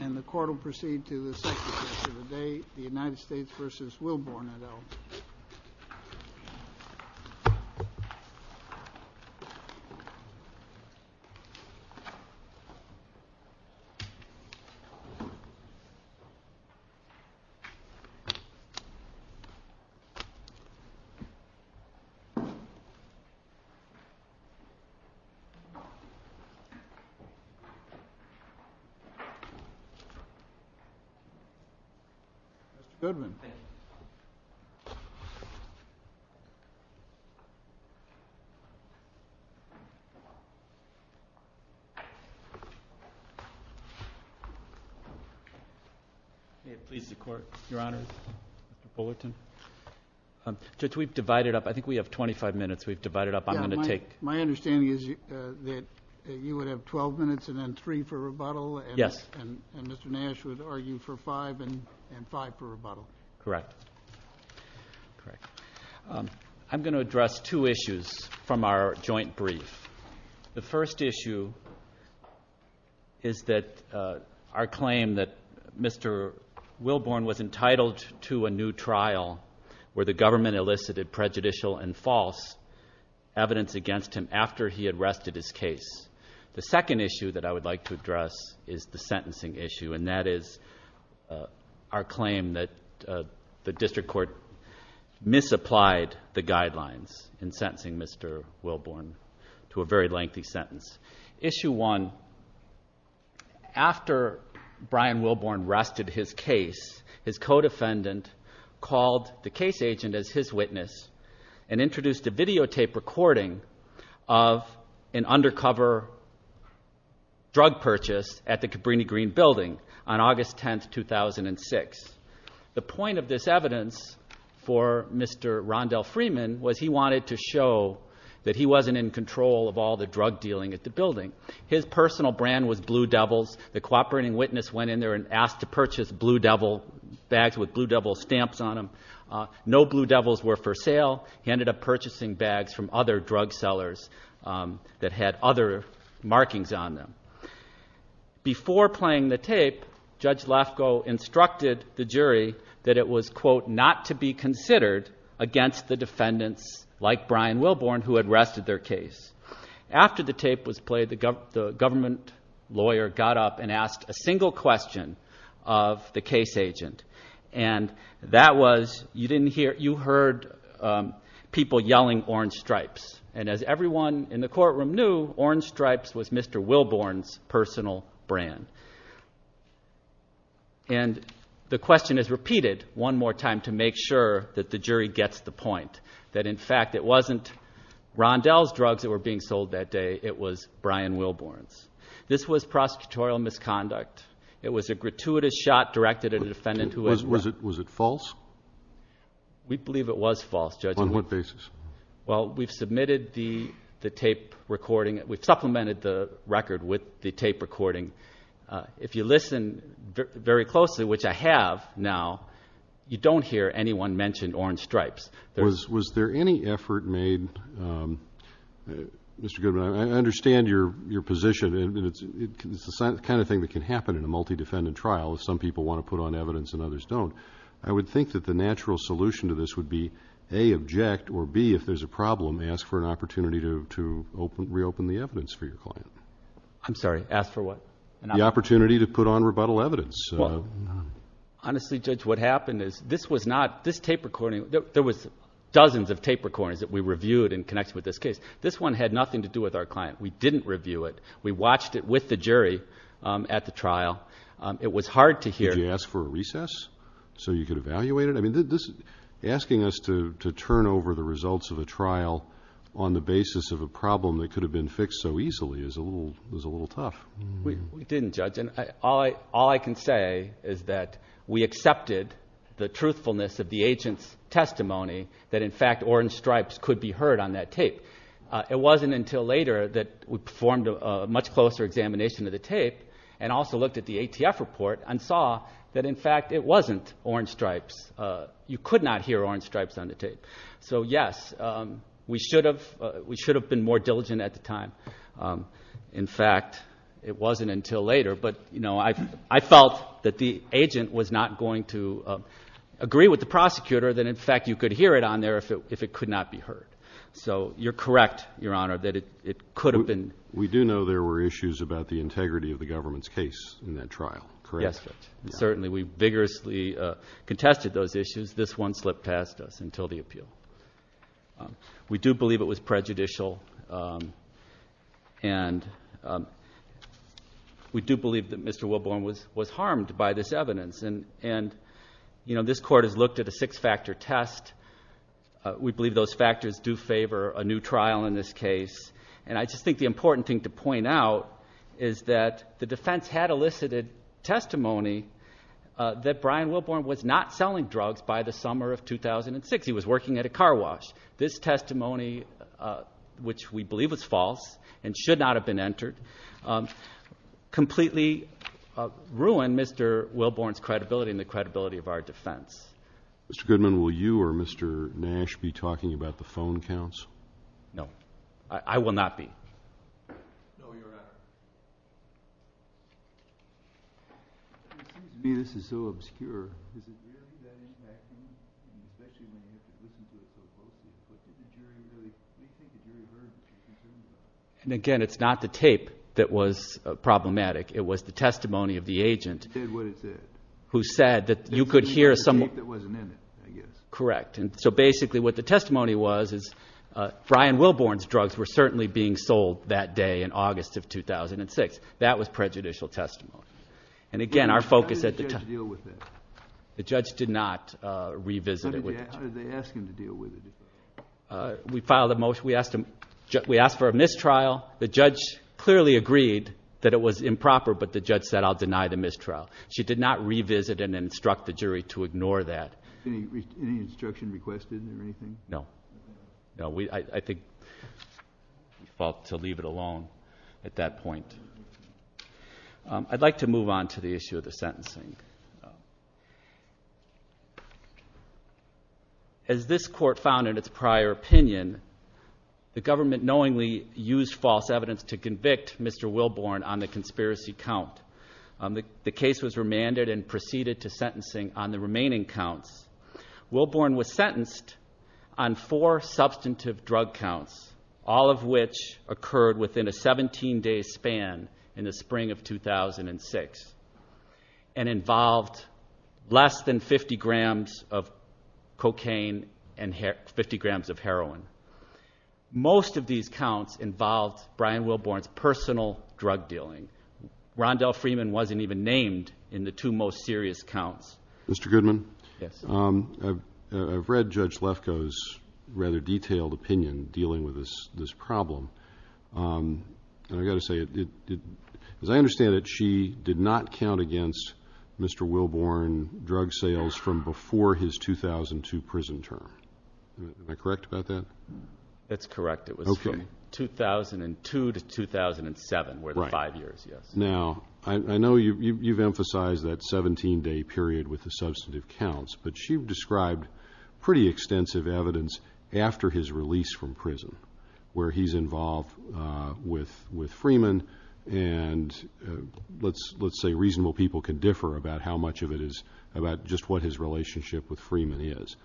And the court will proceed to the second case of the day, the United States v. Wilbourn et al. Judge, we've divided up, I think we have 25 minutes, we've divided up, I'm going to take... My understanding is that you would have 12 minutes and then three for rebuttal and Mr. Nash would argue for five and five for rebuttal. Correct. I'm going to address two issues from our joint brief. The first issue is that our claim that Mr. Wilbourn was entitled to a new trial where the government elicited prejudicial and false evidence against him after he had rested his case. The second issue that I would like to address is the sentencing issue and that is our claim that the district court misapplied the guidelines in sentencing Mr. Wilbourn to a very lengthy sentence. Issue one, after Brian Wilbourn rested his case, his co-defendant called the case agent as his witness and introduced a videotape recording of an undercover drug purchase at the Cabrini-Green building on August 10, 2006. The point of this evidence for Mr. Rondell Freeman was he wanted to show that he wasn't in control of all the drug dealing at the building. His personal brand was Blue Devils. The cooperating witness went in there and asked to purchase Blue Devil bags with Blue Devil stamps on them. No Blue Devils were for sale. He ended up purchasing bags from other drug sellers that had other markings on them. Before playing the tape, Judge Lafko instructed the jury that it was, quote, not to be considered against the defendants like Brian Wilbourn who had rested their case. After the tape was played, the government lawyer got up and asked a single question of the case agent. And that was, you heard people yelling Orange Stripes. And as everyone in the courtroom knew, Orange Stripes was Mr. Wilbourn's personal brand. And the question is repeated one more time to make sure that the jury gets the point. That in fact it wasn't Rondell's drugs that were being sold that day, it was Brian Wilbourn's. This was prosecutorial misconduct. It was a gratuitous shot directed at a defendant who was. Was it false? We believe it was false, Judge. On what basis? Well, we've submitted the tape recording. We've supplemented the record with the tape recording. If you listen very closely, which I have now, you don't hear anyone mention Orange Stripes. Was there any effort made, Mr. Goodman, I understand your position. It's the kind of thing that can happen in a multi-defendant trial if some people want to put on evidence and others don't. I would think that the natural solution to this would be A, object, or B, if there's a problem, ask for an opportunity to reopen the evidence for your client. I'm sorry, ask for what? The opportunity to put on rebuttal evidence. Honestly, Judge, what happened is this was not, this tape recording, there was dozens of tape recordings that we reviewed in connection with this case. This one had nothing to do with our client. We didn't review it. We watched it with the jury at the trial. It was hard to hear. Did you ask for a recess so you could evaluate it? I mean, asking us to turn over the results of a trial on the basis of a problem that could have been fixed so easily is a little tough. We didn't, Judge. All I can say is that we accepted the truthfulness of the agent's testimony that, in fact, orange stripes could be heard on that tape. It wasn't until later that we performed a much closer examination of the tape and also looked at the ATF report and saw that, in fact, it wasn't orange stripes. You could not hear orange stripes on the tape. So, yes, we should have been more diligent at the time. In fact, it wasn't until later. But, you know, I felt that the agent was not going to agree with the prosecutor that, in fact, you could hear it on there if it could not be heard. So you're correct, Your Honor, that it could have been. We do know there were issues about the integrity of the government's case in that trial, correct? Yes, Judge. Certainly we vigorously contested those issues. This one slipped past us until the appeal. We do believe it was prejudicial, and we do believe that Mr. Wilborn was harmed by this evidence. And, you know, this court has looked at a six-factor test. We believe those factors do favor a new trial in this case. And I just think the important thing to point out is that the defense had elicited testimony that Brian Wilborn was not selling drugs by the summer of 2006. He was working at a car wash. This testimony, which we believe was false and should not have been entered, completely ruined Mr. Wilborn's credibility and the credibility of our defense. Mr. Goodman, will you or Mr. Nash be talking about the phone counts? No, I will not be. No, you're out. To me, this is so obscure. And, again, it's not the tape that was problematic. It was the testimony of the agent who said that you could hear someone. The tape that wasn't in it, I guess. Correct. And so, basically, what the testimony was is Brian Wilborn's drugs were certainly being sold that day in August of 2006. That was prejudicial testimony. And, again, our focus at the time. How did the judge deal with that? The judge did not revisit it. How did they ask him to deal with it? We filed a motion. We asked for a mistrial. The judge clearly agreed that it was improper, but the judge said, I'll deny the mistrial. She did not revisit it and instruct the jury to ignore that. Any instruction requested or anything? No. I think we ought to leave it alone at that point. I'd like to move on to the issue of the sentencing. As this court found in its prior opinion, the government knowingly used false evidence to convict Mr. Wilborn on the conspiracy count. The case was remanded and proceeded to sentencing on the remaining counts. Wilborn was sentenced on four substantive drug counts, all of which occurred within a 17-day span in the spring of 2006, and involved less than 50 grams of cocaine and 50 grams of heroin. Most of these counts involved Brian Wilborn's personal drug dealing. Rondell Freeman wasn't even named in the two most serious counts. Mr. Goodman? Yes. I've read Judge Lefkoe's rather detailed opinion dealing with this problem, and I've got to say, as I understand it, she did not count against Mr. Wilborn drug sales from before his 2002 prison term. Am I correct about that? That's correct. It was from 2002 to 2007 were the five years, yes. Now, I know you've emphasized that 17-day period with the substantive counts, but she described pretty extensive evidence after his release from prison where he's involved with Freeman, and let's say reasonable people can differ about how much of it is about just what his relationship with Freeman is.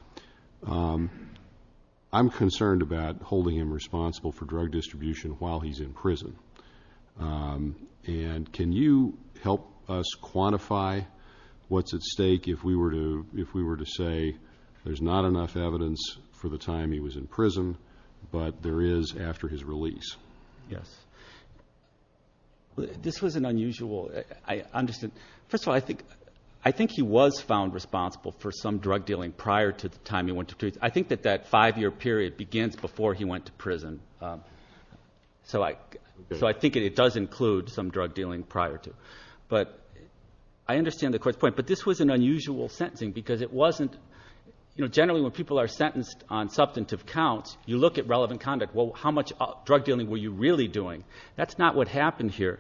I'm concerned about holding him responsible for drug distribution while he's in prison, and can you help us quantify what's at stake if we were to say there's not enough evidence for the time he was in prison, but there is after his release? Yes. This was an unusual, I understand, first of all, I think he was found responsible for some drug dealing prior to the time he went to prison. I think that that five-year period begins before he went to prison, so I think it does include some drug dealing prior to. I understand the court's point, but this was an unusual sentencing because it wasn't, generally when people are sentenced on substantive counts, you look at relevant conduct. Well, how much drug dealing were you really doing? That's not what happened here.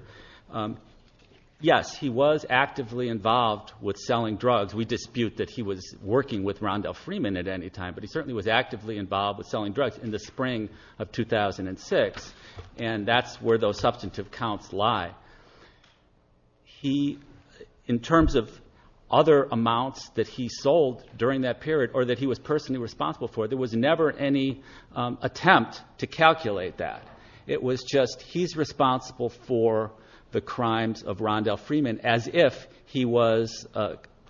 Yes, he was actively involved with selling drugs. We dispute that he was working with Rondell Freeman at any time, but he certainly was actively involved with selling drugs in the spring of 2006, and that's where those substantive counts lie. In terms of other amounts that he sold during that period or that he was personally responsible for, there was never any attempt to calculate that. It was just he's responsible for the crimes of Rondell Freeman as if he was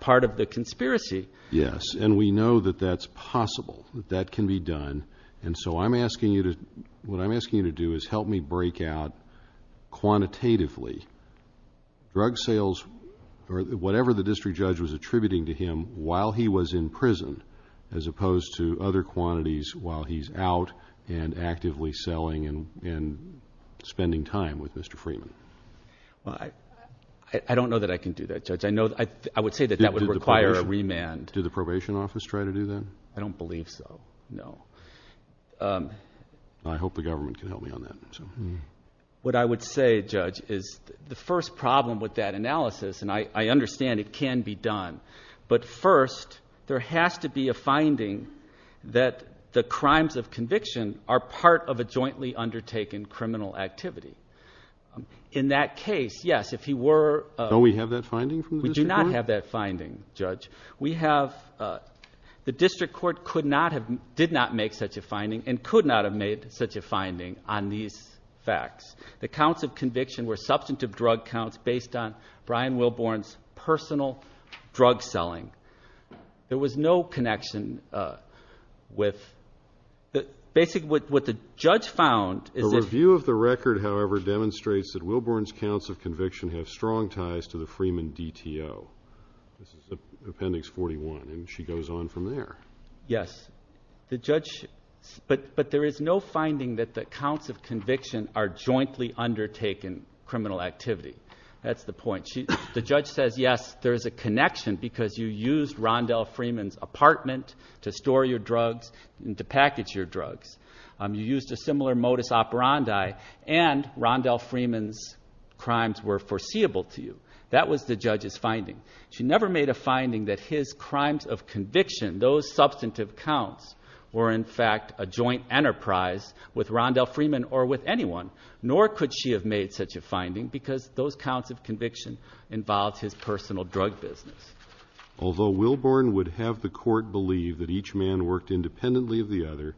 part of the conspiracy. Yes, and we know that that's possible, that that can be done, and so what I'm asking you to do is help me break out quantitatively drug sales or whatever the district judge was attributing to him while he was in prison as opposed to other quantities while he's out and actively selling and spending time with Mr. Freeman. I don't know that I can do that, Judge. I would say that that would require a remand. Did the probation office try to do that? I don't believe so, no. I hope the government can help me on that. What I would say, Judge, is the first problem with that analysis, and I understand it can be done, but first there has to be a finding that the crimes of conviction are part of a jointly undertaken criminal activity. In that case, yes, if he were... Don't we have that finding from the district court? We do not have that finding, Judge. The district court did not make such a finding and could not have made such a finding on these facts. The counts of conviction were substantive drug counts based on Brian Wilborn's personal drug selling. There was no connection with... Basically what the judge found is that... The review of the record, however, demonstrates that Wilborn's counts of conviction have strong ties to the Freeman DTO. This is Appendix 41, and she goes on from there. Yes, the judge... But there is no finding that the counts of conviction are jointly undertaken criminal activity. That's the point. The judge says, yes, there is a connection because you used Rondell Freeman's apartment to store your drugs and to package your drugs. You used a similar modus operandi, and Rondell Freeman's crimes were foreseeable to you. That was the judge's finding. She never made a finding that his crimes of conviction, those substantive counts, were in fact a joint enterprise with Rondell Freeman or with anyone. Nor could she have made such a finding because those counts of conviction involved his personal drug business. Although Wilborn would have the court believe that each man worked independently of the other,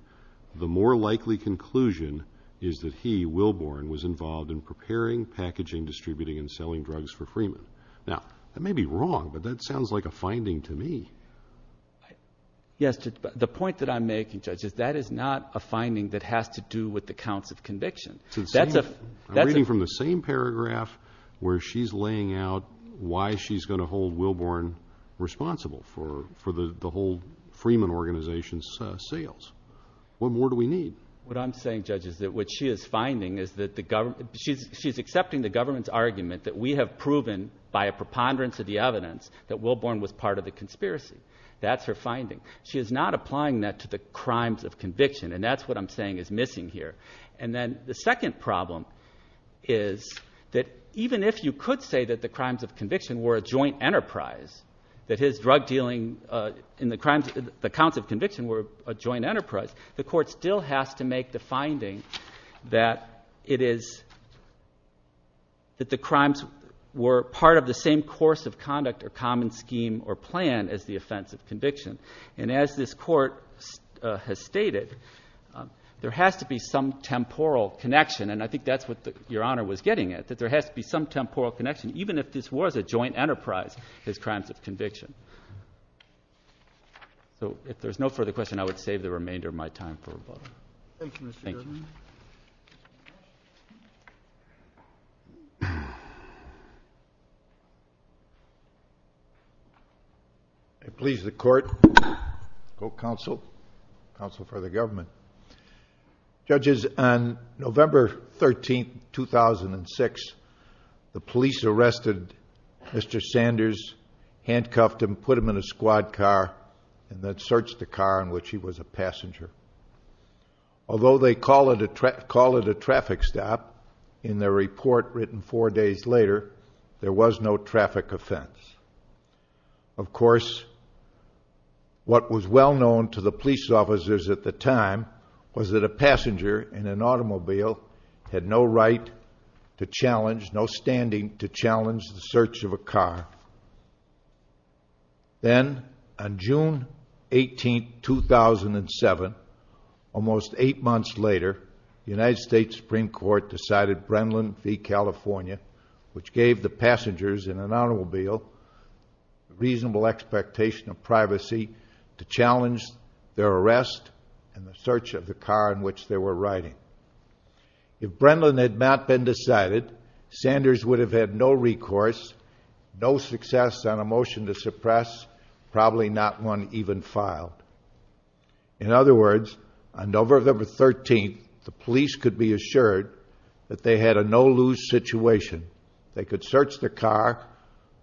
the more likely conclusion is that he, Wilborn, was involved in preparing, packaging, distributing, and selling drugs for Freeman. Now, that may be wrong, but that sounds like a finding to me. Yes, the point that I'm making, Judge, is that is not a finding that has to do with the counts of conviction. I'm reading from the same paragraph where she's laying out why she's going to hold Wilborn responsible for the whole Freeman organization's sales. What more do we need? What I'm saying, Judge, is that what she is finding is that she's accepting the government's argument that we have proven by a preponderance of the evidence that Wilborn was part of the conspiracy. That's her finding. She is not applying that to the crimes of conviction, and that's what I'm saying is missing here. And then the second problem is that even if you could say that the crimes of conviction were a joint enterprise, that his drug dealing and the counts of conviction were a joint enterprise, the court still has to make the finding that the crimes were part of the same course of conduct or common scheme or plan as the offense of conviction. And as this court has stated, there has to be some temporal connection, and I think that's what Your Honor was getting at, that there has to be some temporal connection. Even if this was a joint enterprise, there's crimes of conviction. So if there's no further question, I would save the remainder of my time for rebuttal. Thank you, Mr. Chairman. I please the court. Go counsel. Counsel for the government. Judges, on November 13, 2006, the police arrested Mr. Sanders, handcuffed him, put him in a squad car, and then searched the car in which he was a passenger. Although they call it a traffic stop, in their report written four days later, there was no traffic offense. Of course, what was well known to the police officers at the time was that a passenger in an automobile had no right to challenge, no standing to challenge the search of a car. Then, on June 18, 2007, almost eight months later, the United States Supreme Court decided Brendan v. California, which gave the passengers in an automobile reasonable expectation of privacy to challenge their arrest and the search of the car in which they were riding. If Brendan had not been decided, Sanders would have had no recourse, no success on a motion to suppress, probably not one even filed. In other words, on November 13, the police could be assured that they had a no-lose situation. They could search the car.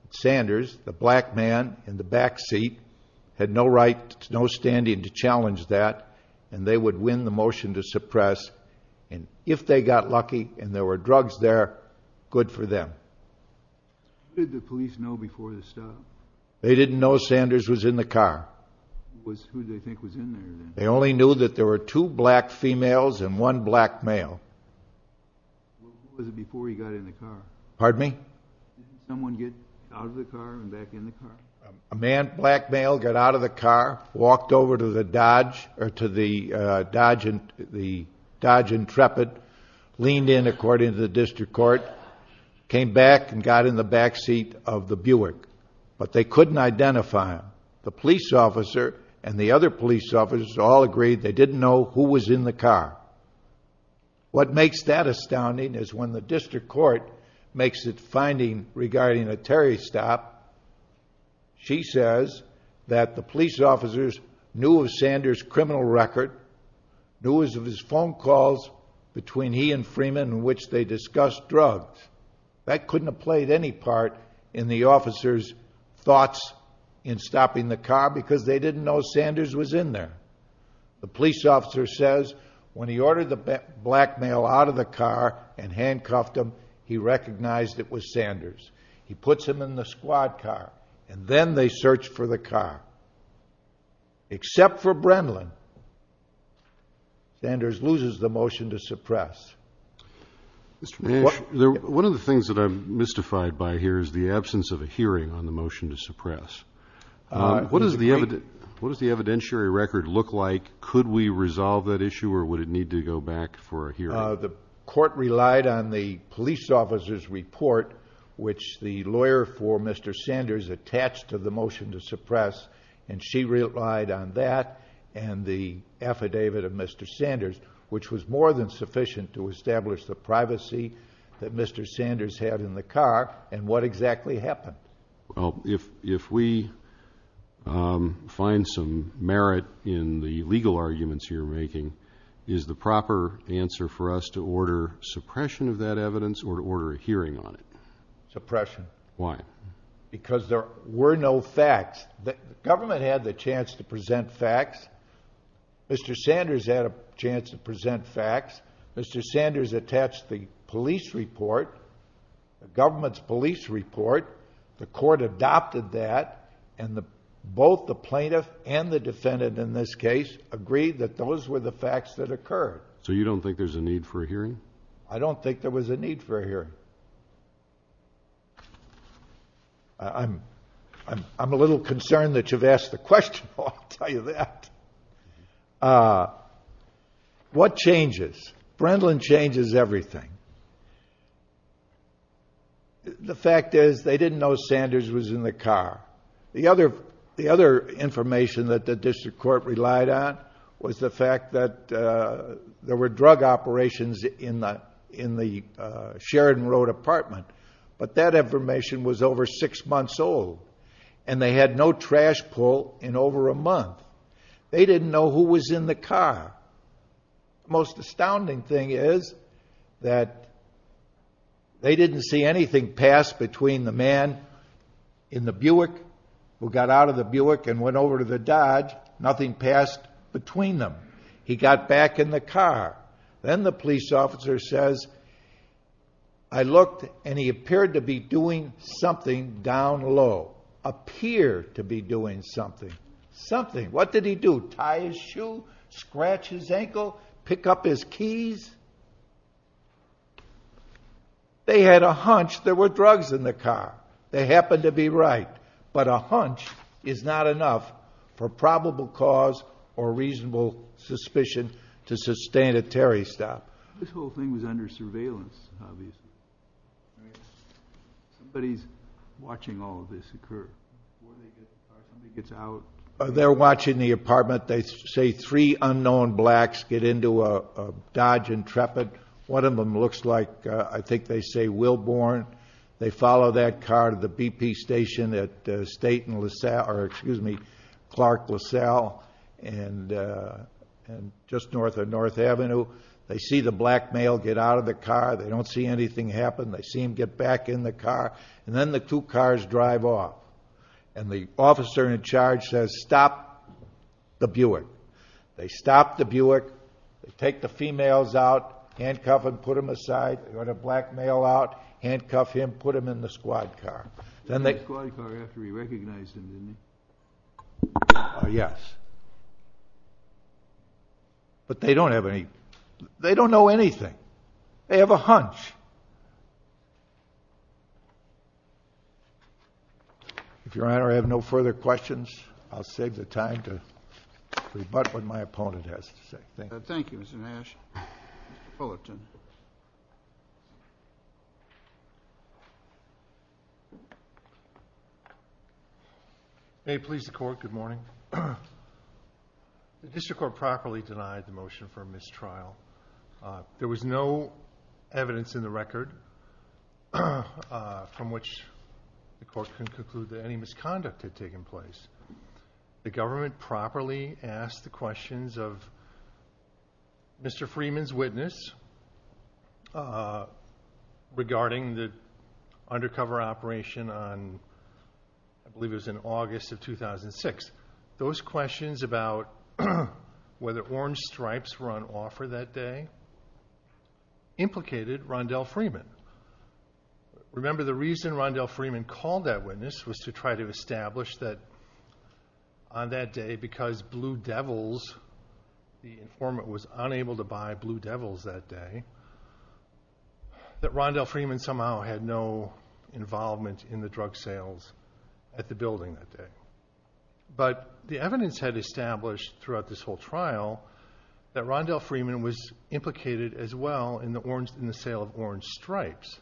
Sanders, the black man in the back seat, had no right, no standing to challenge that, and they would win the motion to suppress. And if they got lucky and there were drugs there, good for them. What did the police know before the stop? They didn't know Sanders was in the car. Who do they think was in there? They only knew that there were two black females and one black male. What was it before he got in the car? Pardon me? Did someone get out of the car and back in the car? A man, black male, got out of the car, walked over to the Dodge Intrepid, leaned in, according to the district court, came back and got in the back seat of the Buick. But they couldn't identify him. The police officer and the other police officers all agreed they didn't know who was in the car. What makes that astounding is when the district court makes its finding regarding a Terry stop, she says that the police officers knew of Sanders' criminal record, knew of his phone calls between he and Freeman in which they discussed drugs. That couldn't have played any part in the officers' thoughts in stopping the car because they didn't know Sanders was in there. The police officer says when he ordered the black male out of the car and handcuffed him, he recognized it was Sanders. He puts him in the squad car, and then they search for the car. Except for Brendlin, Sanders loses the motion to suppress. One of the things that I'm mystified by here is the absence of a hearing on the motion to suppress. What does the evidentiary record look like? Could we resolve that issue, or would it need to go back for a hearing? The court relied on the police officer's report, which the lawyer for Mr. Sanders attached to the motion to suppress, and she relied on that and the affidavit of Mr. Sanders, which was more than sufficient to establish the privacy that Mr. Sanders had in the car. And what exactly happened? Well, if we find some merit in the legal arguments you're making, is the proper answer for us to order suppression of that evidence or to order a hearing on it? Suppression. Why? Because there were no facts. The government had the chance to present facts. Mr. Sanders had a chance to present facts. Mr. Sanders attached the police report, the government's police report. The court adopted that, and both the plaintiff and the defendant in this case agreed that those were the facts that occurred. So you don't think there's a need for a hearing? I don't think there was a need for a hearing. I'm a little concerned that you've asked the question. I'll tell you that. What changes? Brendlin changes everything. The fact is they didn't know Sanders was in the car. The other information that the district court relied on was the fact that there were drug operations in the Sheridan Road apartment, but that information was over six months old, and they had no trash pull in over a month. They didn't know who was in the car. The most astounding thing is that they didn't see anything pass between the man in the Buick who got out of the Buick and went over to the Dodge. Nothing passed between them. He got back in the car. Then the police officer says, I looked, and he appeared to be doing something down low. Appeared to be doing something. Something. What did he do? Tie his shoe? Scratch his ankle? Pick up his keys? They had a hunch there were drugs in the car. They happened to be right, but a hunch is not enough for probable cause or reasonable suspicion to sustain a Terry stop. This whole thing was under surveillance, obviously. Somebody's watching all of this occur. Somebody gets out. They're watching the apartment. They say three unknown blacks get into a Dodge Intrepid. One of them looks like, I think they say, Wilborn. They follow that car to the BP station at Clark-LaSalle just north of North Avenue. They see the black male get out of the car. They don't see anything happen. They see him get back in the car. Then the two cars drive off. The officer in charge says, Stop the Buick. They stop the Buick. They take the females out, handcuff and put them aside. They let a black male out, handcuff him, put him in the squad car. He was in the squad car after he recognized him, didn't he? Yes. But they don't know anything. They have a hunch. If, Your Honor, I have no further questions, I'll save the time to rebut what my opponent has to say. Thank you, Mr. Nash. Mr. Fullerton. May it please the Court, good morning. The District Court properly denied the motion for a mistrial. There was no evidence in the record from which the Court can conclude that any misconduct had taken place. The government properly asked the questions of Mr. Freeman's witness regarding the undercover operation on, I believe it was in August of 2006. Those questions about whether orange stripes were on offer that day implicated Rondell Freeman. Remember, the reason Rondell Freeman called that witness was to try to establish that on that day, because Blue Devils, the informant was unable to buy Blue Devils that day, that Rondell Freeman somehow had no involvement in the drug sales at the building that day. But the evidence had established throughout this whole trial that Rondell Freeman was implicated as well in the sale of orange stripes.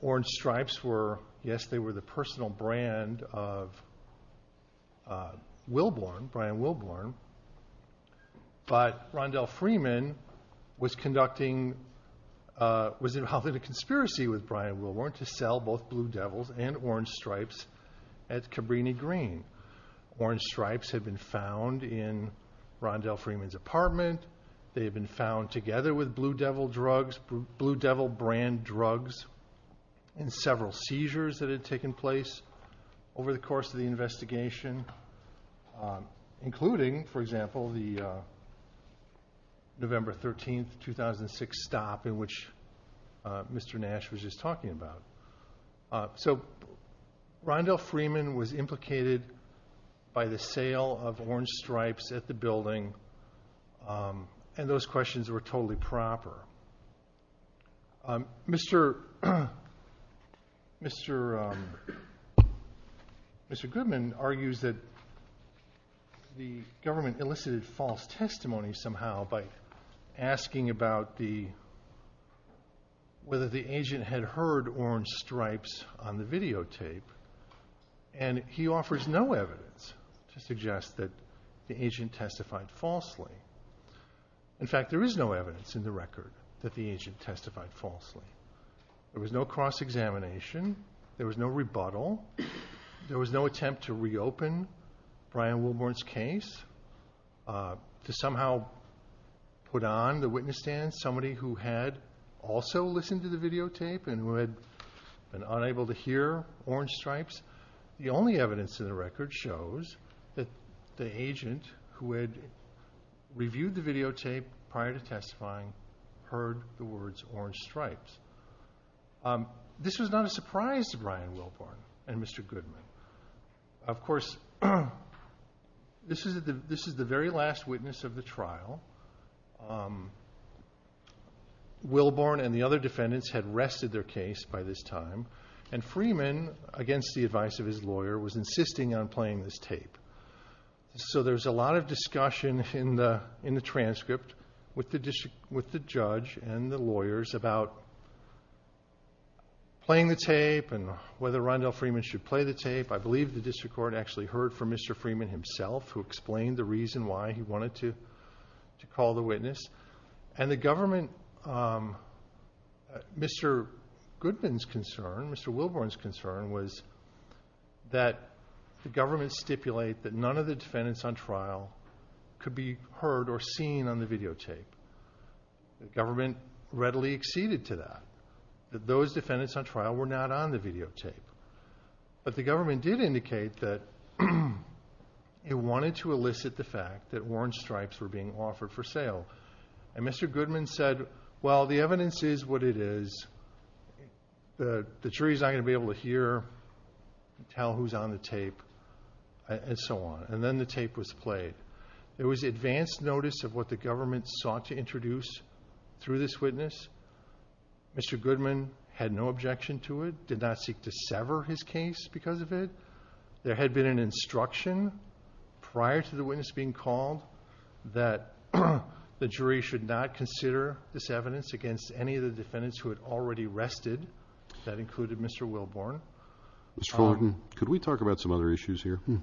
Orange stripes were, yes, they were the personal brand of Willborn, Brian Willborn, but Rondell Freeman was conducting, was involved in a conspiracy with Brian Willborn to sell both Blue Devils and orange stripes at Cabrini Green. Orange stripes had been found in Rondell Freeman's apartment. They had been found together with Blue Devil drugs, Blue Devil brand drugs in several seizures that had taken place over the course of the investigation, including, for example, the November 13, 2006 stop in which Mr. Nash was just talking about. So Rondell Freeman was implicated by the sale of orange stripes at the building, and those questions were totally proper. Mr. Goodman argues that the government elicited false testimony somehow by asking about whether the agent had heard orange stripes on the videotape, and he offers no evidence to suggest that the agent testified falsely. In fact, there is no evidence in the record that the agent testified falsely. There was no cross-examination. There was no rebuttal. There was no attempt to reopen Brian Willborn's case, to somehow put on the witness stand somebody who had also listened to the videotape and who had been unable to hear orange stripes. The only evidence in the record shows that the agent who had reviewed the videotape prior to testifying heard the words orange stripes. This was not a surprise to Brian Willborn and Mr. Goodman. Of course, this is the very last witness of the trial. Willborn and the other defendants had rested their case by this time, and Freeman, against the advice of his lawyer, was insisting on playing this tape. So there's a lot of discussion in the transcript with the judge and the lawyers about playing the tape and whether Rondell Freeman should play the tape. I believe the district court actually heard from Mr. Freeman himself, who explained the reason why he wanted to call the witness. Mr. Goodman's concern, Mr. Willborn's concern, was that the government stipulate that none of the defendants on trial could be heard or seen on the videotape. The government readily acceded to that, that those defendants on trial were not on the videotape. But the government did indicate that it wanted to elicit the fact that orange stripes were being offered for sale. And Mr. Goodman said, well, the evidence is what it is. The jury's not going to be able to hear, tell who's on the tape, and so on. And then the tape was played. There was advance notice of what the government sought to introduce through this witness. Mr. Goodman had no objection to it, did not seek to sever his case because of it. There had been an instruction prior to the witness being called that the jury should not consider this evidence against any of the defendants who had already rested. That included Mr. Willborn. Mr. Fullerton, could we talk about some other issues here? I'm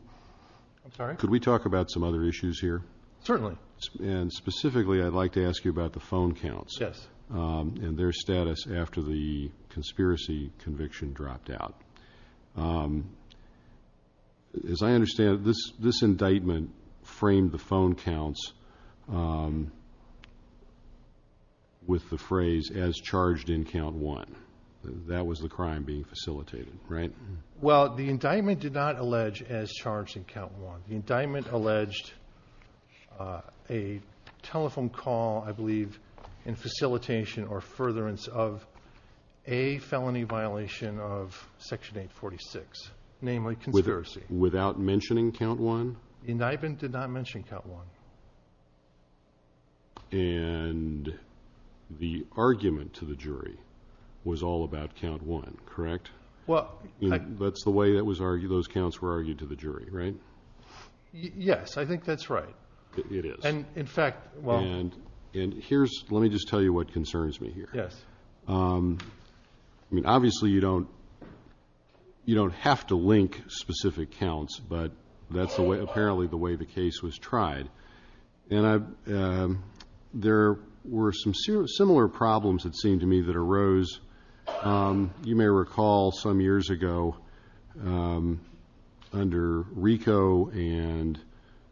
sorry? Could we talk about some other issues here? Certainly. And specifically, I'd like to ask you about the phone counts. Yes. And their status after the conspiracy conviction dropped out. As I understand it, this indictment framed the phone counts with the phrase, as charged in count one. That was the crime being facilitated, right? Well, the indictment did not allege as charged in count one. The indictment alleged a telephone call, I believe, in facilitation or furtherance of a felony violation of section 846, namely conspiracy. Without mentioning count one? The indictment did not mention count one. And the argument to the jury was all about count one, correct? That's the way those counts were argued to the jury, right? Yes, I think that's right. It is. And, in fact, well. And let me just tell you what concerns me here. Yes. I mean, obviously you don't have to link specific counts, but that's apparently the way the case was tried. And there were some similar problems, it seemed to me, that arose. You may recall some years ago, under RICO and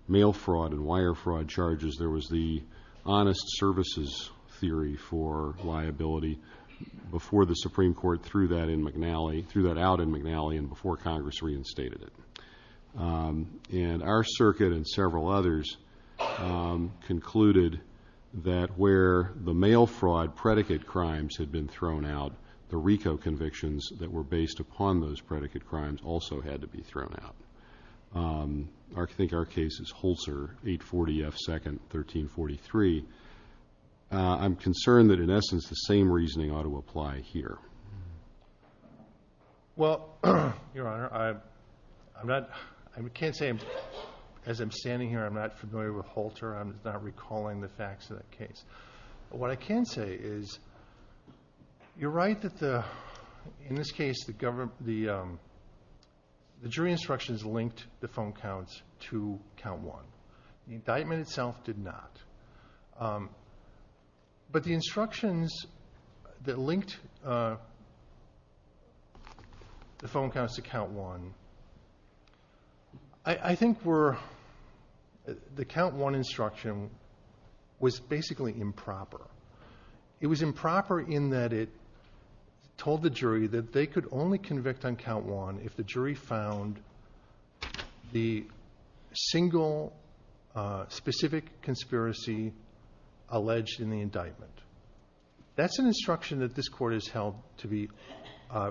mail fraud and wire fraud charges, there was the honest services theory for liability. Before the Supreme Court threw that out in McNally and before Congress reinstated it. And our circuit and several others concluded that where the mail fraud predicate crimes had been thrown out, the RICO convictions that were based upon those predicate crimes also had to be thrown out. I think our case is Holzer, 840 F. 2nd, 1343. I'm concerned that, in essence, the same reasoning ought to apply here. Well, Your Honor, I can't say, as I'm standing here, I'm not familiar with Holzer. I'm not recalling the facts of that case. What I can say is you're right that, in this case, the jury instructions linked the phone counts to count one. The indictment itself did not. But the instructions that linked the phone counts to count one, I think the count one instruction was basically improper. It was improper in that it told the jury that they could only convict on count one if the jury found the single specific conspiracy alleged in the indictment. That's an instruction that this court has held to be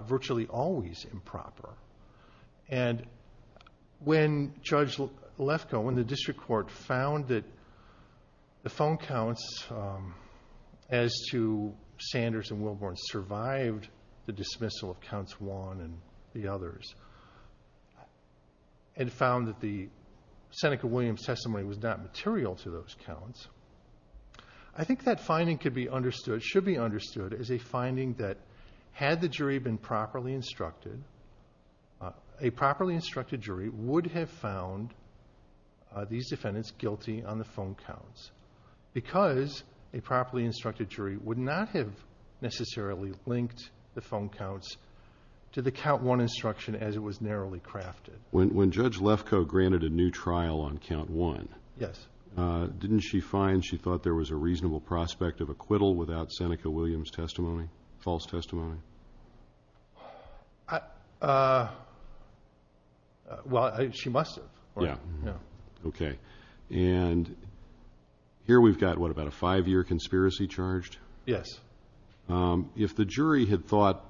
virtually always improper. And when Judge Lefkoe in the district court found that the phone counts as to Sanders and Wilborn survived the dismissal of counts one and the others and found that the Seneca-Williams testimony was not material to those counts, I think that finding could be understood, should be understood, as a finding that, had the jury been properly instructed, a properly instructed jury would have found these defendants guilty on the phone counts because a properly instructed jury would not have necessarily linked the phone counts to the count one instruction as it was narrowly crafted. When Judge Lefkoe granted a new trial on count one, didn't she find she thought there was a reasonable prospect of acquittal without Seneca-Williams testimony, false testimony? Well, she must have. Okay. And here we've got, what, about a five-year conspiracy charged? Yes. If the jury had thought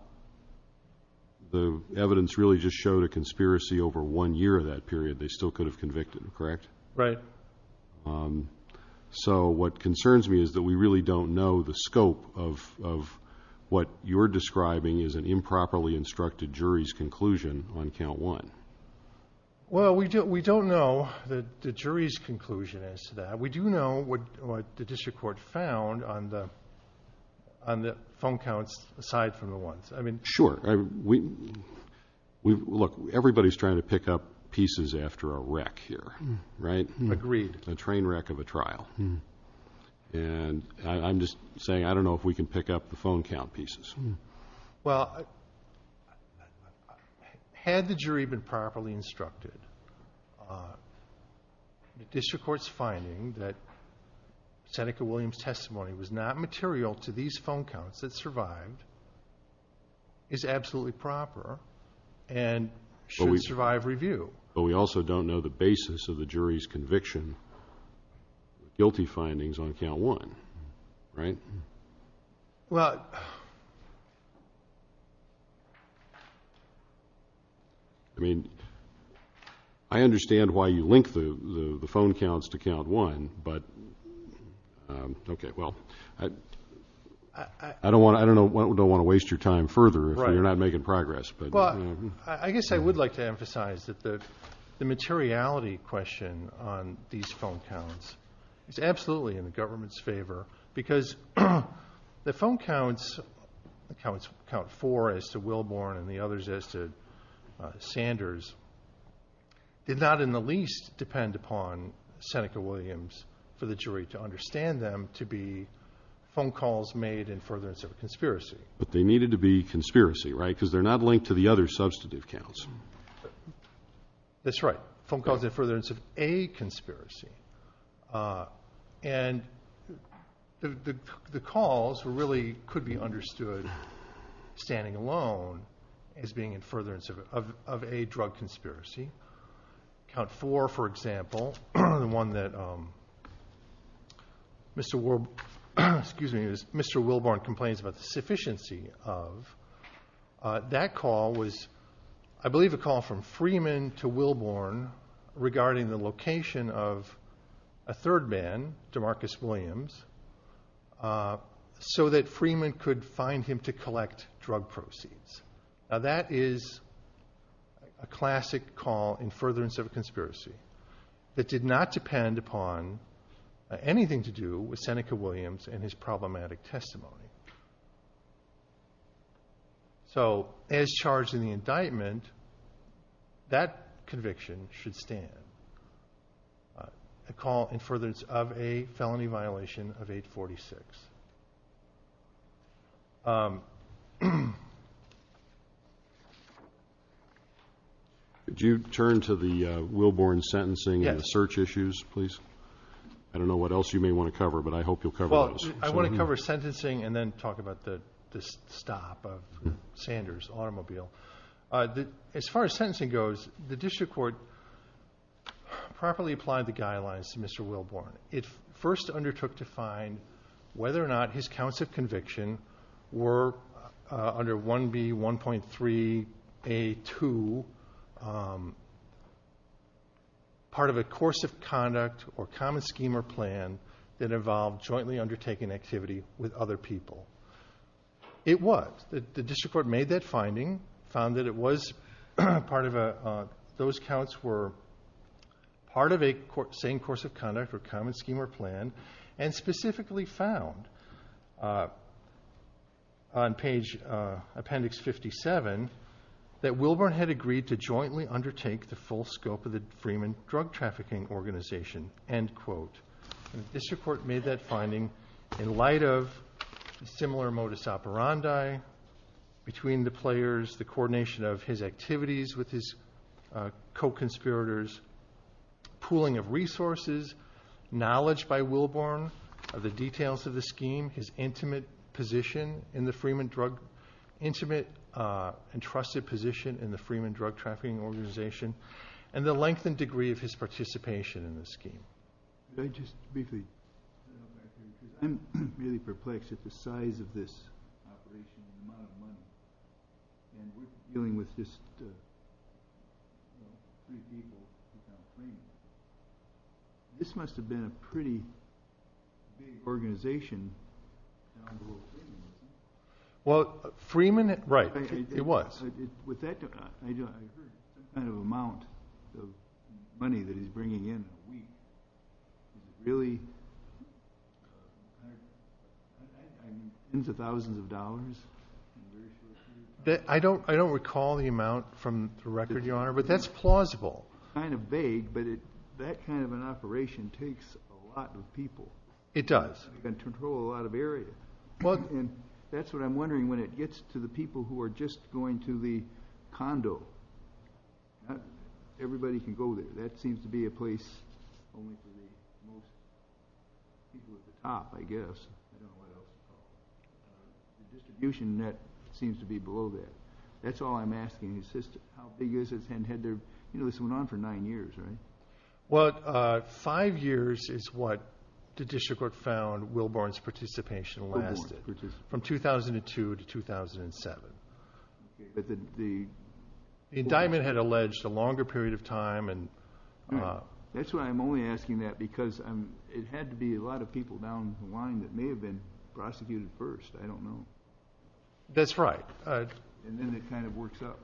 the evidence really just showed a conspiracy over one year of that period, they still could have convicted them, correct? Right. So what concerns me is that we really don't know the scope of what you're describing as an improperly instructed jury's conclusion on count one. Well, we don't know the jury's conclusion as to that. We do know what the district court found on the phone counts aside from the ones. Sure. Look, everybody's trying to pick up pieces after a wreck here, right? Agreed. A train wreck of a trial. And I'm just saying I don't know if we can pick up the phone count pieces. Well, had the jury been properly instructed, the district court's finding that Seneca-Williams testimony was not material to these phone counts that survived is absolutely proper and should survive review. But we also don't know the basis of the jury's conviction, guilty findings on count one, right? Well. I mean, I understand why you link the phone counts to count one, but, okay, well. I don't want to waste your time further if you're not making progress. Well, I guess I would like to emphasize that the materiality question on these phone counts is absolutely in the government's favor because the phone counts, count four as to Wilborn and the others as to Sanders, did not in the least depend upon Seneca-Williams for the jury to understand them to be phone calls made in furtherance of a conspiracy. But they needed to be conspiracy, right, because they're not linked to the other substantive counts. That's right. Phone calls in furtherance of a conspiracy. And the calls really could be understood, standing alone, as being in furtherance of a drug conspiracy. Count four, for example, the one that Mr. Wilborn complains about the sufficiency of, that call was, I believe, a call from Freeman to Wilborn regarding the location of a third man, DeMarcus Williams, so that Freeman could find him to collect drug proceeds. Now that is a classic call in furtherance of a conspiracy that did not depend upon anything to do with Seneca-Williams and his problematic testimony. So as charged in the indictment, that conviction should stand. A call in furtherance of a felony violation of 846. Could you turn to the Wilborn sentencing and the search issues, please? I don't know what else you may want to cover, but I hope you'll cover those. Well, I want to cover sentencing and then talk about the stop of Sanders Automobile. As far as sentencing goes, the district court properly applied the guidelines to Mr. Wilborn. It first undertook to find whether or not his counts of conviction were under 1B1.3A2 part of a course of conduct or common scheme or plan that involved jointly undertaking activity with other people. It was. The district court made that finding, found that it was part of a— and specifically found on page appendix 57 that Wilborn had agreed to jointly undertake the full scope of the Freeman Drug Trafficking Organization, end quote. The district court made that finding in light of similar modus operandi between the players, the coordination of his activities with his co-conspirators, pooling of resources, knowledge by Wilborn of the details of the scheme, his intimate position in the Freeman Drug— intimate and trusted position in the Freeman Drug Trafficking Organization, and the length and degree of his participation in the scheme. Could I just briefly—I'm really perplexed at the size of this operation and the amount of money and dealing with this— this must have been a pretty big organization down below Freeman. Well, Freeman—right, it was. With that kind of amount of money that he's bringing in a week, really— tens of thousands of dollars. I don't recall the amount from the record, Your Honor, but that's plausible. Kind of vague, but that kind of an operation takes a lot of people. It does. And control a lot of areas. And that's what I'm wondering, when it gets to the people who are just going to the condo, not everybody can go there. That seems to be a place only for the most people at the top, I guess. The distribution net seems to be below that. That's all I'm asking. How big is it? This went on for nine years, right? Well, five years is what the district court found Wilborn's participation lasted, from 2002 to 2007. But the— The indictment had alleged a longer period of time. That's why I'm only asking that, because it had to be a lot of people down the line that may have been prosecuted first. I don't know. That's right. And then it kind of works up.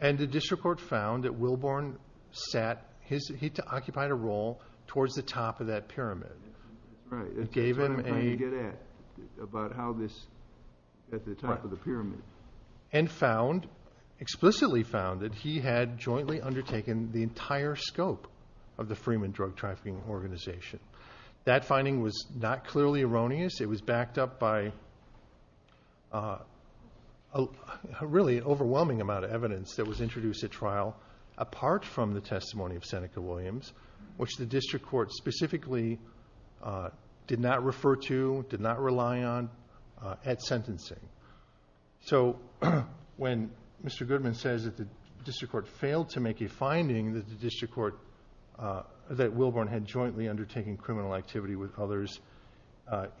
And the district court found that Wilborn occupied a role towards the top of that pyramid. Right, that's what I'm trying to get at, about how this— And found, explicitly found, that he had jointly undertaken the entire scope of the Freeman Drug Trafficking Organization. That finding was not clearly erroneous. It was backed up by a really overwhelming amount of evidence that was introduced at trial, apart from the testimony of Seneca Williams, which the district court specifically did not refer to, did not rely on, at sentencing. So when Mr. Goodman says that the district court failed to make a finding, that the district court—that Wilborn had jointly undertaken criminal activity with others,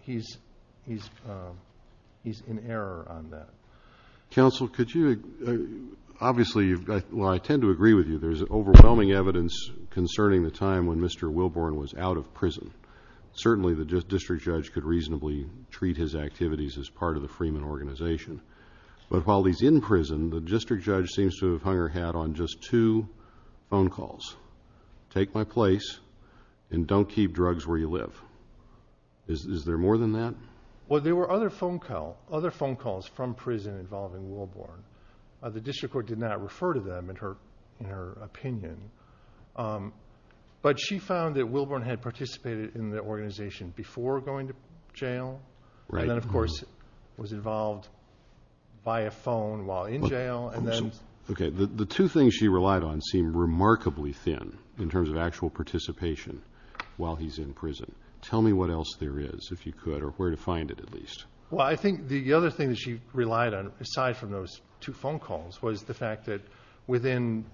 he's in error on that. Counsel, could you—obviously, you've got—well, I tend to agree with you. There's overwhelming evidence concerning the time when Mr. Wilborn was out of prison. Certainly, the district judge could reasonably treat his activities as part of the Freeman Organization. But while he's in prison, the district judge seems to have hung her hat on just two phone calls, take my place and don't keep drugs where you live. Is there more than that? Well, there were other phone calls from prison involving Wilborn. The district court did not refer to them, in her opinion. But she found that Wilborn had participated in the organization before going to jail. And then, of course, was involved via phone while in jail. Okay. The two things she relied on seem remarkably thin in terms of actual participation while he's in prison. Tell me what else there is, if you could, or where to find it at least. Well, I think the other thing that she relied on, aside from those two phone calls, was the fact that within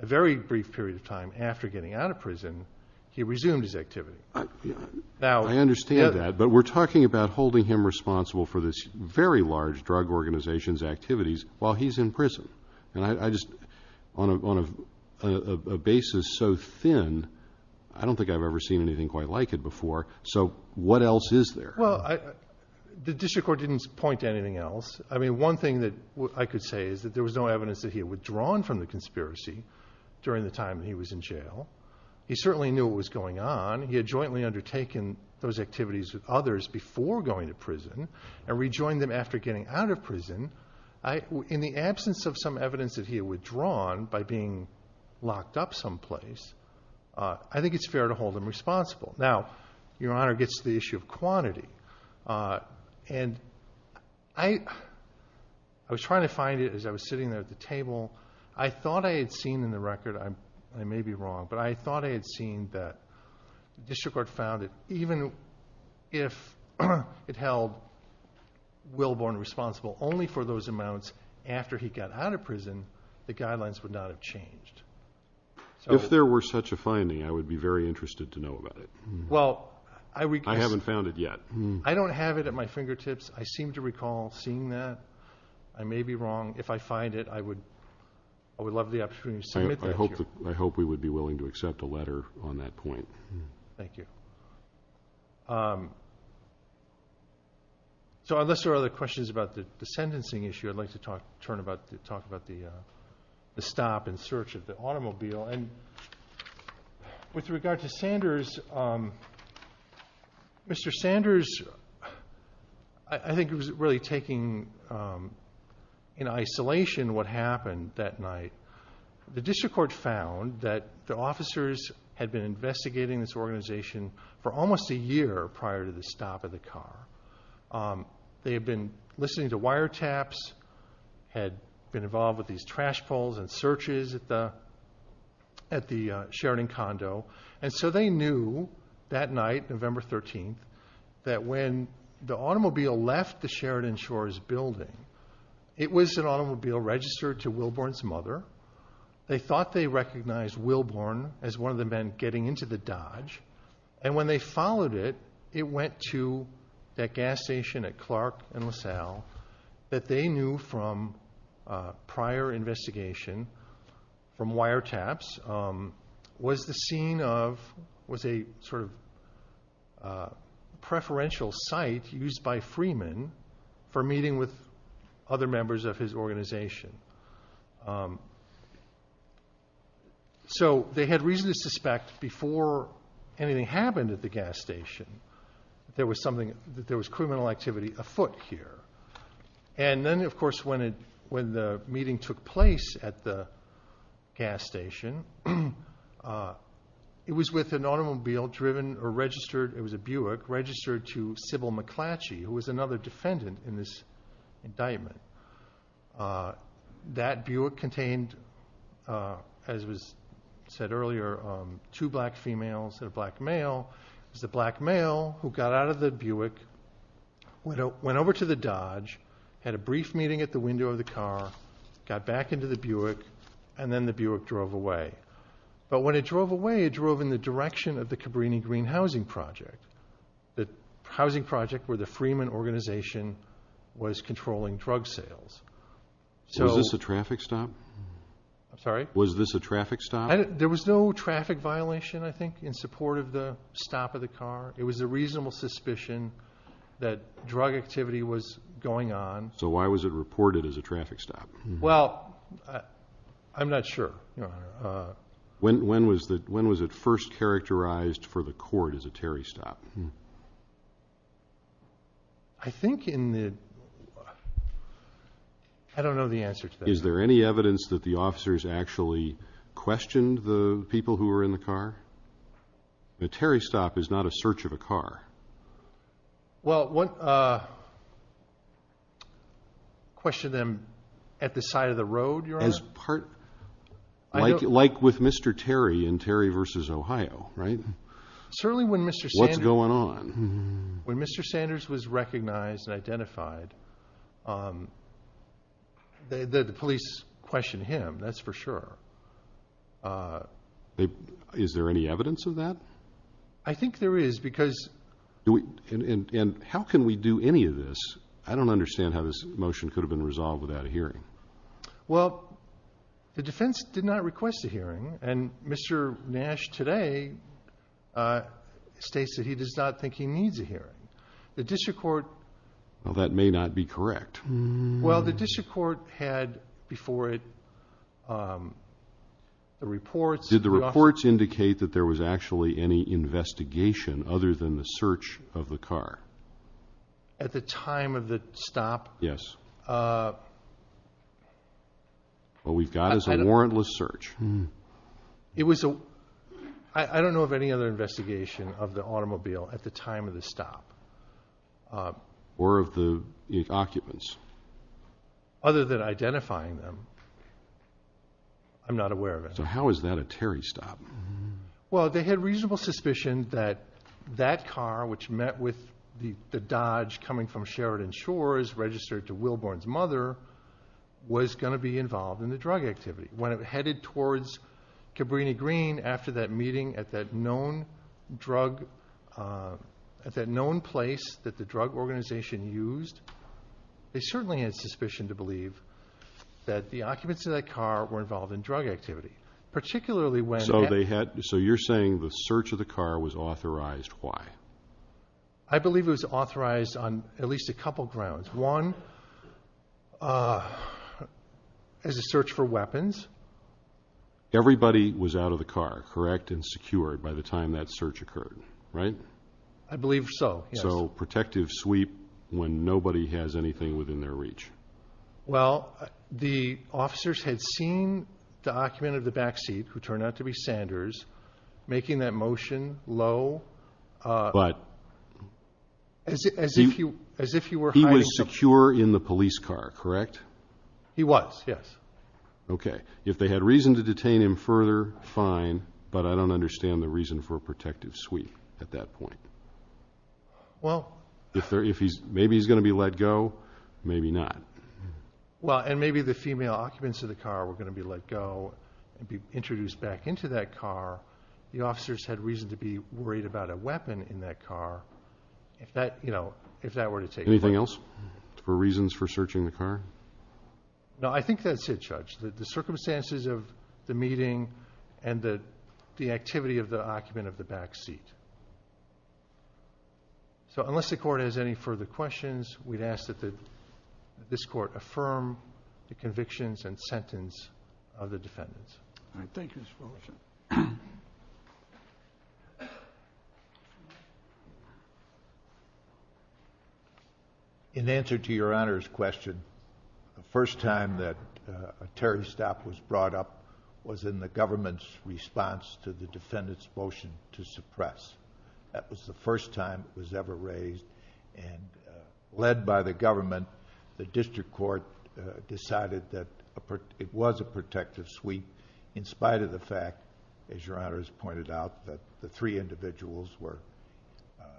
a very brief period of time after getting out of prison, he resumed his activity. I understand that. But we're talking about holding him responsible for this very large drug organization's activities while he's in prison. And I just, on a basis so thin, I don't think I've ever seen anything quite like it before. So what else is there? Well, the district court didn't point to anything else. I mean, one thing that I could say is that there was no evidence that he had withdrawn from the conspiracy during the time that he was in jail. He certainly knew what was going on. He had jointly undertaken those activities with others before going to prison and rejoined them after getting out of prison. In the absence of some evidence that he had withdrawn by being locked up someplace, I think it's fair to hold him responsible. Now, Your Honor gets to the issue of quantity. And I was trying to find it as I was sitting there at the table. I thought I had seen in the record, and I may be wrong, but I thought I had seen that the district court found that even if it held Willborn responsible only for those amounts after he got out of prison, the guidelines would not have changed. If there were such a finding, I would be very interested to know about it. I haven't found it yet. I don't have it at my fingertips. I seem to recall seeing that. I may be wrong. If I find it, I would love the opportunity to submit that to you. I hope we would be willing to accept a letter on that point. Thank you. So unless there are other questions about the sentencing issue, I'd like to talk about the stop and search of the automobile. And with regard to Sanders, Mr. Sanders, I think it was really taking in isolation what happened that night. The district court found that the officers had been investigating this organization for almost a year prior to the stop of the car. They had been listening to wiretaps, had been involved with these trash pulls and searches at the Sheridan condo, and so they knew that night, November 13th, that when the automobile left the Sheridan Shores building, it was an automobile registered to Willborn's mother. They thought they recognized Willborn as one of the men getting into the Dodge, and when they followed it, it went to that gas station at Clark and LaSalle that they knew from prior investigation from wiretaps was the scene of a preferential site used by Freeman for meeting with other members of his organization. So they had reason to suspect before anything happened at the gas station that there was criminal activity afoot here. And then, of course, when the meeting took place at the gas station, it was with an automobile registered to Sybil McClatchy, who was another defendant in this indictment. That Buick contained, as was said earlier, two black females and a black male. It was the black male who got out of the Buick, went over to the Dodge, had a brief meeting at the window of the car, got back into the Buick, and then the Buick drove away. But when it drove away, it drove in the direction of the Cabrini Green housing project, the housing project where the Freeman organization was controlling drug sales. Was this a traffic stop? I'm sorry? Was this a traffic stop? There was no traffic violation, I think, in support of the stop of the car. It was a reasonable suspicion that drug activity was going on. So why was it reported as a traffic stop? Well, I'm not sure. When was it first characterized for the court as a Terry stop? I think in the—I don't know the answer to that. Is there any evidence that the officers actually questioned the people who were in the car? A Terry stop is not a search of a car. Well, question them at the side of the road, Your Honor? As part—like with Mr. Terry in Terry v. Ohio, right? Certainly when Mr. Sanders— What's going on? When Mr. Sanders was recognized and identified, the police questioned him, that's for sure. Is there any evidence of that? I think there is because— And how can we do any of this? I don't understand how this motion could have been resolved without a hearing. Well, the defense did not request a hearing, and Mr. Nash today states that he does not think he needs a hearing. The district court— Well, that may not be correct. Well, the district court had before it the reports— Did the reports indicate that there was actually any investigation other than the search of the car? At the time of the stop? Yes. What we've got is a warrantless search. It was a—I don't know of any other investigation of the automobile at the time of the stop. Or of the occupants. Other than identifying them, I'm not aware of it. So how is that a Terry stop? Well, they had reasonable suspicion that that car, which met with the Dodge coming from Sheridan Shores, registered to Wilborn's mother, was going to be involved in the drug activity. When it headed towards Cabrini-Green after that meeting at that known drug— at that known place that the drug organization used, they certainly had suspicion to believe that the occupants of that car were involved in drug activity. Particularly when— So you're saying the search of the car was authorized, why? I believe it was authorized on at least a couple grounds. One, as a search for weapons. Everybody was out of the car, correct, and secured by the time that search occurred, right? I believe so, yes. So protective sweep when nobody has anything within their reach. Well, the officers had seen the occupant of the backseat, who turned out to be Sanders, making that motion low. But— As if he were hiding— He was secure in the police car, correct? He was, yes. Okay. If they had reason to detain him further, fine, but I don't understand the reason for a protective sweep at that point. Well— Maybe he's going to be let go, maybe not. Well, and maybe the female occupants of the car were going to be let go and be introduced back into that car. The officers had reason to be worried about a weapon in that car if that were to take place. Anything else for reasons for searching the car? No, I think that's it, Judge. The circumstances of the meeting and the activity of the occupant of the backseat. So unless the Court has any further questions, we'd ask that this Court affirm the convictions and sentence of the defendants. All right. Thank you, Mr. Fullerton. In answer to your Honor's question, the first time that a Terry stop was brought up was in the government's response to the defendant's motion to suppress. That was the first time it was ever raised. And led by the government, the District Court decided that it was a protective sweep in spite of the fact, as your Honor has pointed out, that the three individuals were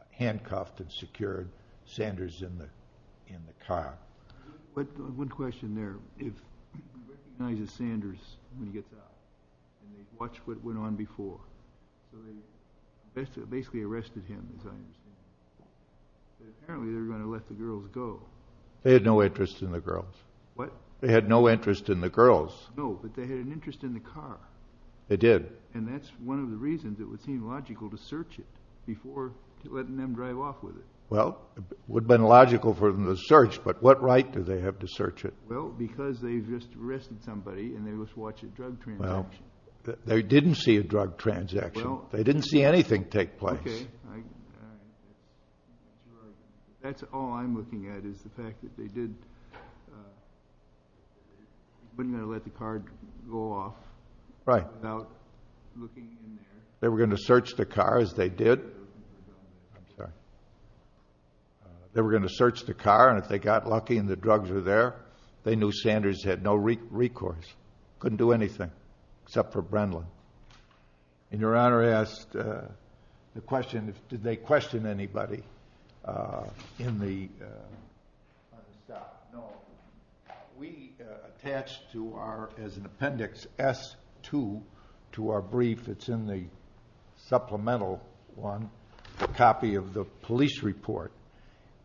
handcuffed and secured, Sanders in the car. One question there. If he recognizes Sanders when he gets out and he's watched what went on before, so they basically arrested him as I understand it. But apparently they were going to let the girls go. They had no interest in the girls. What? They had no interest in the girls. No, but they had an interest in the car. They did. And that's one of the reasons it would seem logical to search it before letting them drive off with it. Well, it would have been logical for them to search, but what right do they have to search it? Well, because they just arrested somebody and they must watch a drug transaction. They didn't see a drug transaction. They didn't see anything take place. Okay. That's all I'm looking at is the fact that they didn't let the car go off without looking in there. They were going to search the car as they did? I'm sorry. They were going to search the car, and if they got lucky and the drugs were there, they knew Sanders had no recourse. Couldn't do anything except for Brendan. And Your Honor asked the question, did they question anybody in the stop? No. We attached to our, as an appendix, S2 to our brief that's in the supplemental one, a copy of the police report,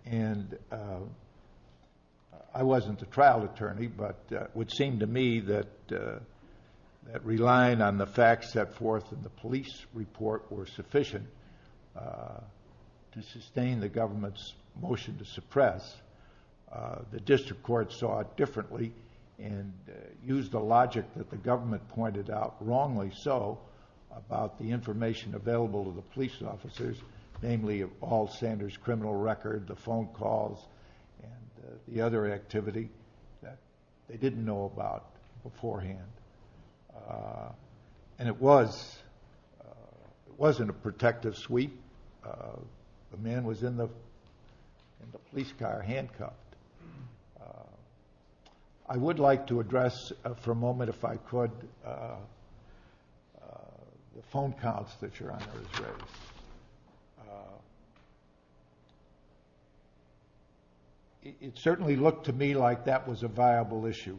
and I wasn't the trial attorney, but it would seem to me that relying on the facts set forth in the police report were sufficient to sustain the government's motion to suppress. The district court saw it differently and used the logic that the government pointed out, wrongly so, about the information available to the police officers, namely all Sanders' criminal records, the phone calls, and the other activity that they didn't know about beforehand. And it wasn't a protective sweep. The man was in the police car, handcuffed. I would like to address for a moment, if I could, the phone calls that Your Honor has raised. It certainly looked to me like that was a viable issue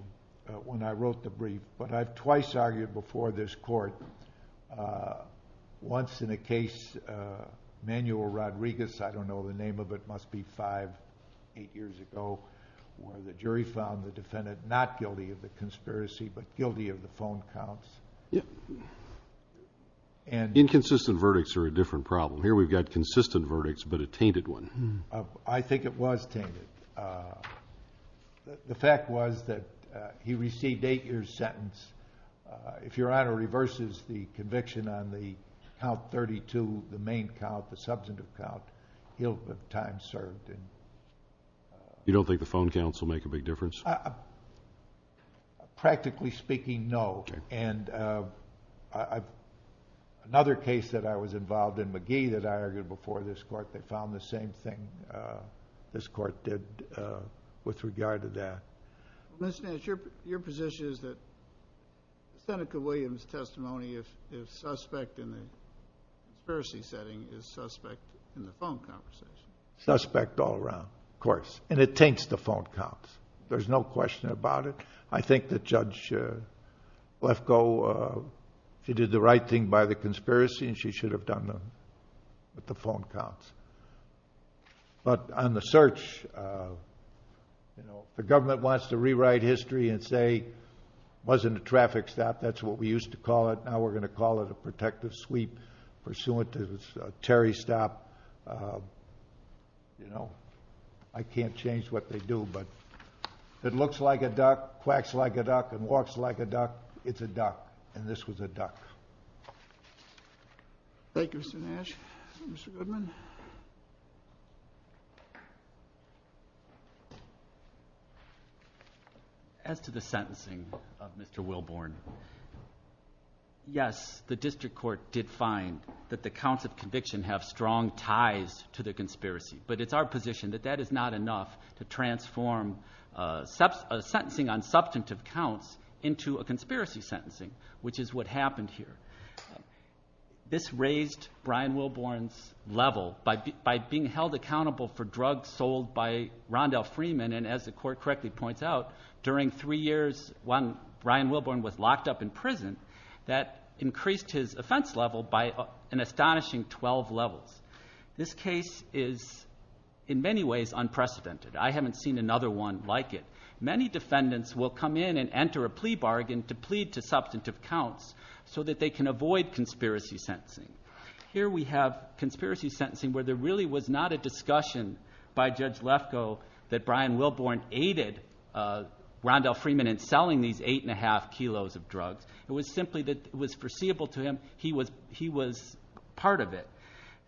when I wrote the brief, but I've twice argued before this court, once in a case, Manuel Rodriguez, I don't know the name of it, must be five, eight years ago, where the jury found the defendant not guilty of the conspiracy but guilty of the phone calls. Inconsistent verdicts are a different problem. Here we've got consistent verdicts but a tainted one. I think it was tainted. The fact was that he received eight years' sentence. If Your Honor reverses the conviction on the count 32, the main count, the substantive count, he'll have time served. You don't think the phone counts will make a big difference? Practically speaking, no. And another case that I was involved in, McGee, that I argued before this court, they found the same thing this court did with regard to that. Mr. Nance, your position is that Seneca Williams' testimony is suspect in the conspiracy setting is suspect in the phone conversation. Suspect all around, of course. And it taints the phone counts. There's no question about it. I think that Judge Lefkoe, she did the right thing by the conspiracy and she should have done with the phone counts. But on the search, you know, the government wants to rewrite history and say it wasn't a traffic stop, that's what we used to call it, now we're going to call it a protective sweep pursuant to the Terry stop. You know, I can't change what they do, but it looks like a duck, it's a duck, and this was a duck. Thank you, Mr. Nash. Mr. Goodman. As to the sentencing of Mr. Wilbourn, yes, the district court did find that the counts of conviction have strong ties to the conspiracy, but it's our position that that is not enough to transform a sentencing on substantive counts into a conspiracy sentencing, which is what happened here. This raised Brian Wilbourn's level by being held accountable for drugs sold by Rondell Freeman, and as the court correctly points out, during three years when Brian Wilbourn was locked up in prison, that increased his offense level by an astonishing 12 levels. This case is in many ways unprecedented. I haven't seen another one like it. Many defendants will come in and enter a plea bargain to plead to substantive counts so that they can avoid conspiracy sentencing. Here we have conspiracy sentencing where there really was not a discussion by Judge Lefkoe that Brian Wilbourn aided Rondell Freeman in selling these 8 1⁄2 kilos of drugs. It was simply that it was foreseeable to him he was part of it.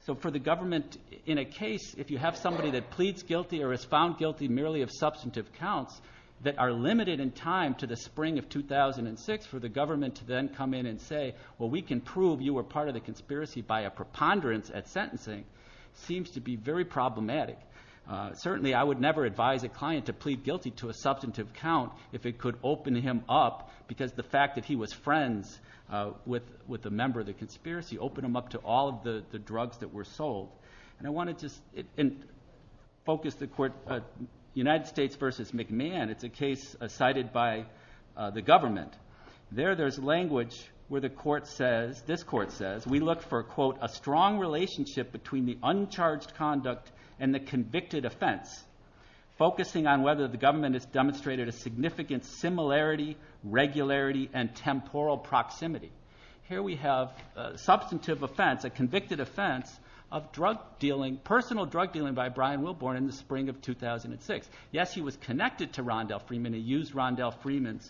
So for the government, in a case, if you have somebody that pleads guilty or is found guilty merely of substantive counts that are limited in time to the spring of 2006, for the government to then come in and say, well, we can prove you were part of the conspiracy by a preponderance at sentencing, seems to be very problematic. Certainly I would never advise a client to plead guilty to a substantive count if it could open him up because the fact that he was friends with a member of the conspiracy opened him up to all of the drugs that were sold. And I want to just focus the court, United States v. McMahon. It's a case cited by the government. There there's language where the court says, this court says, we look for, quote, a strong relationship between the uncharged conduct and the convicted offense, focusing on whether the government has demonstrated a significant similarity, regularity, and temporal proximity. Here we have a substantive offense, a convicted offense, of personal drug dealing by Brian Wilborn in the spring of 2006. Yes, he was connected to Rondell Freeman. He used Rondell Freeman's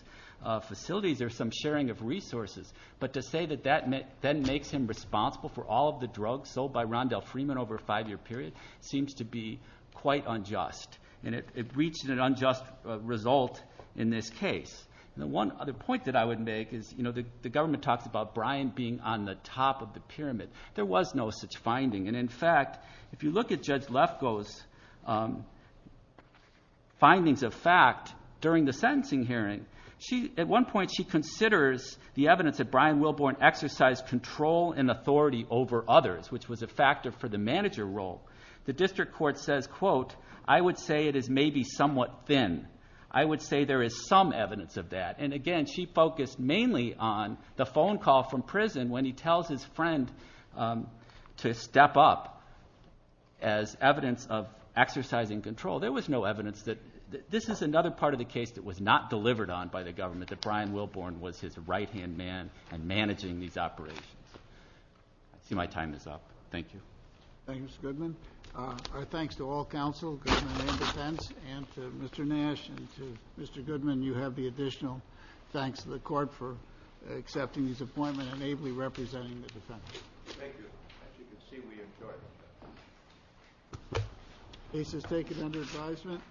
facilities. There's some sharing of resources. But to say that that then makes him responsible for all of the drugs sold by Rondell Freeman over a five-year period seems to be quite unjust, and it reached an unjust result in this case. The one other point that I would make is, you know, the government talks about Brian being on the top of the pyramid. There was no such finding. And in fact, if you look at Judge Lefkoe's findings of fact during the sentencing hearing, at one point she considers the evidence that Brian Wilborn exercised control and authority over others, which was a factor for the manager role. The district court says, quote, I would say it is maybe somewhat thin. I would say there is some evidence of that. And, again, she focused mainly on the phone call from prison when he tells his friend to step up as evidence of exercising control. There was no evidence that this is another part of the case that was not delivered on by the government, that Brian Wilborn was his right-hand man in managing these operations. I see my time is up. Thank you. Thank you, Mr. Goodman. Our thanks to all counsel. Goodman, in defense. And to Mr. Nash and to Mr. Goodman, you have the additional thanks to the court for accepting this appointment and ably representing the defense. Thank you. As you can see, we enjoyed it. Case is taken under advisement.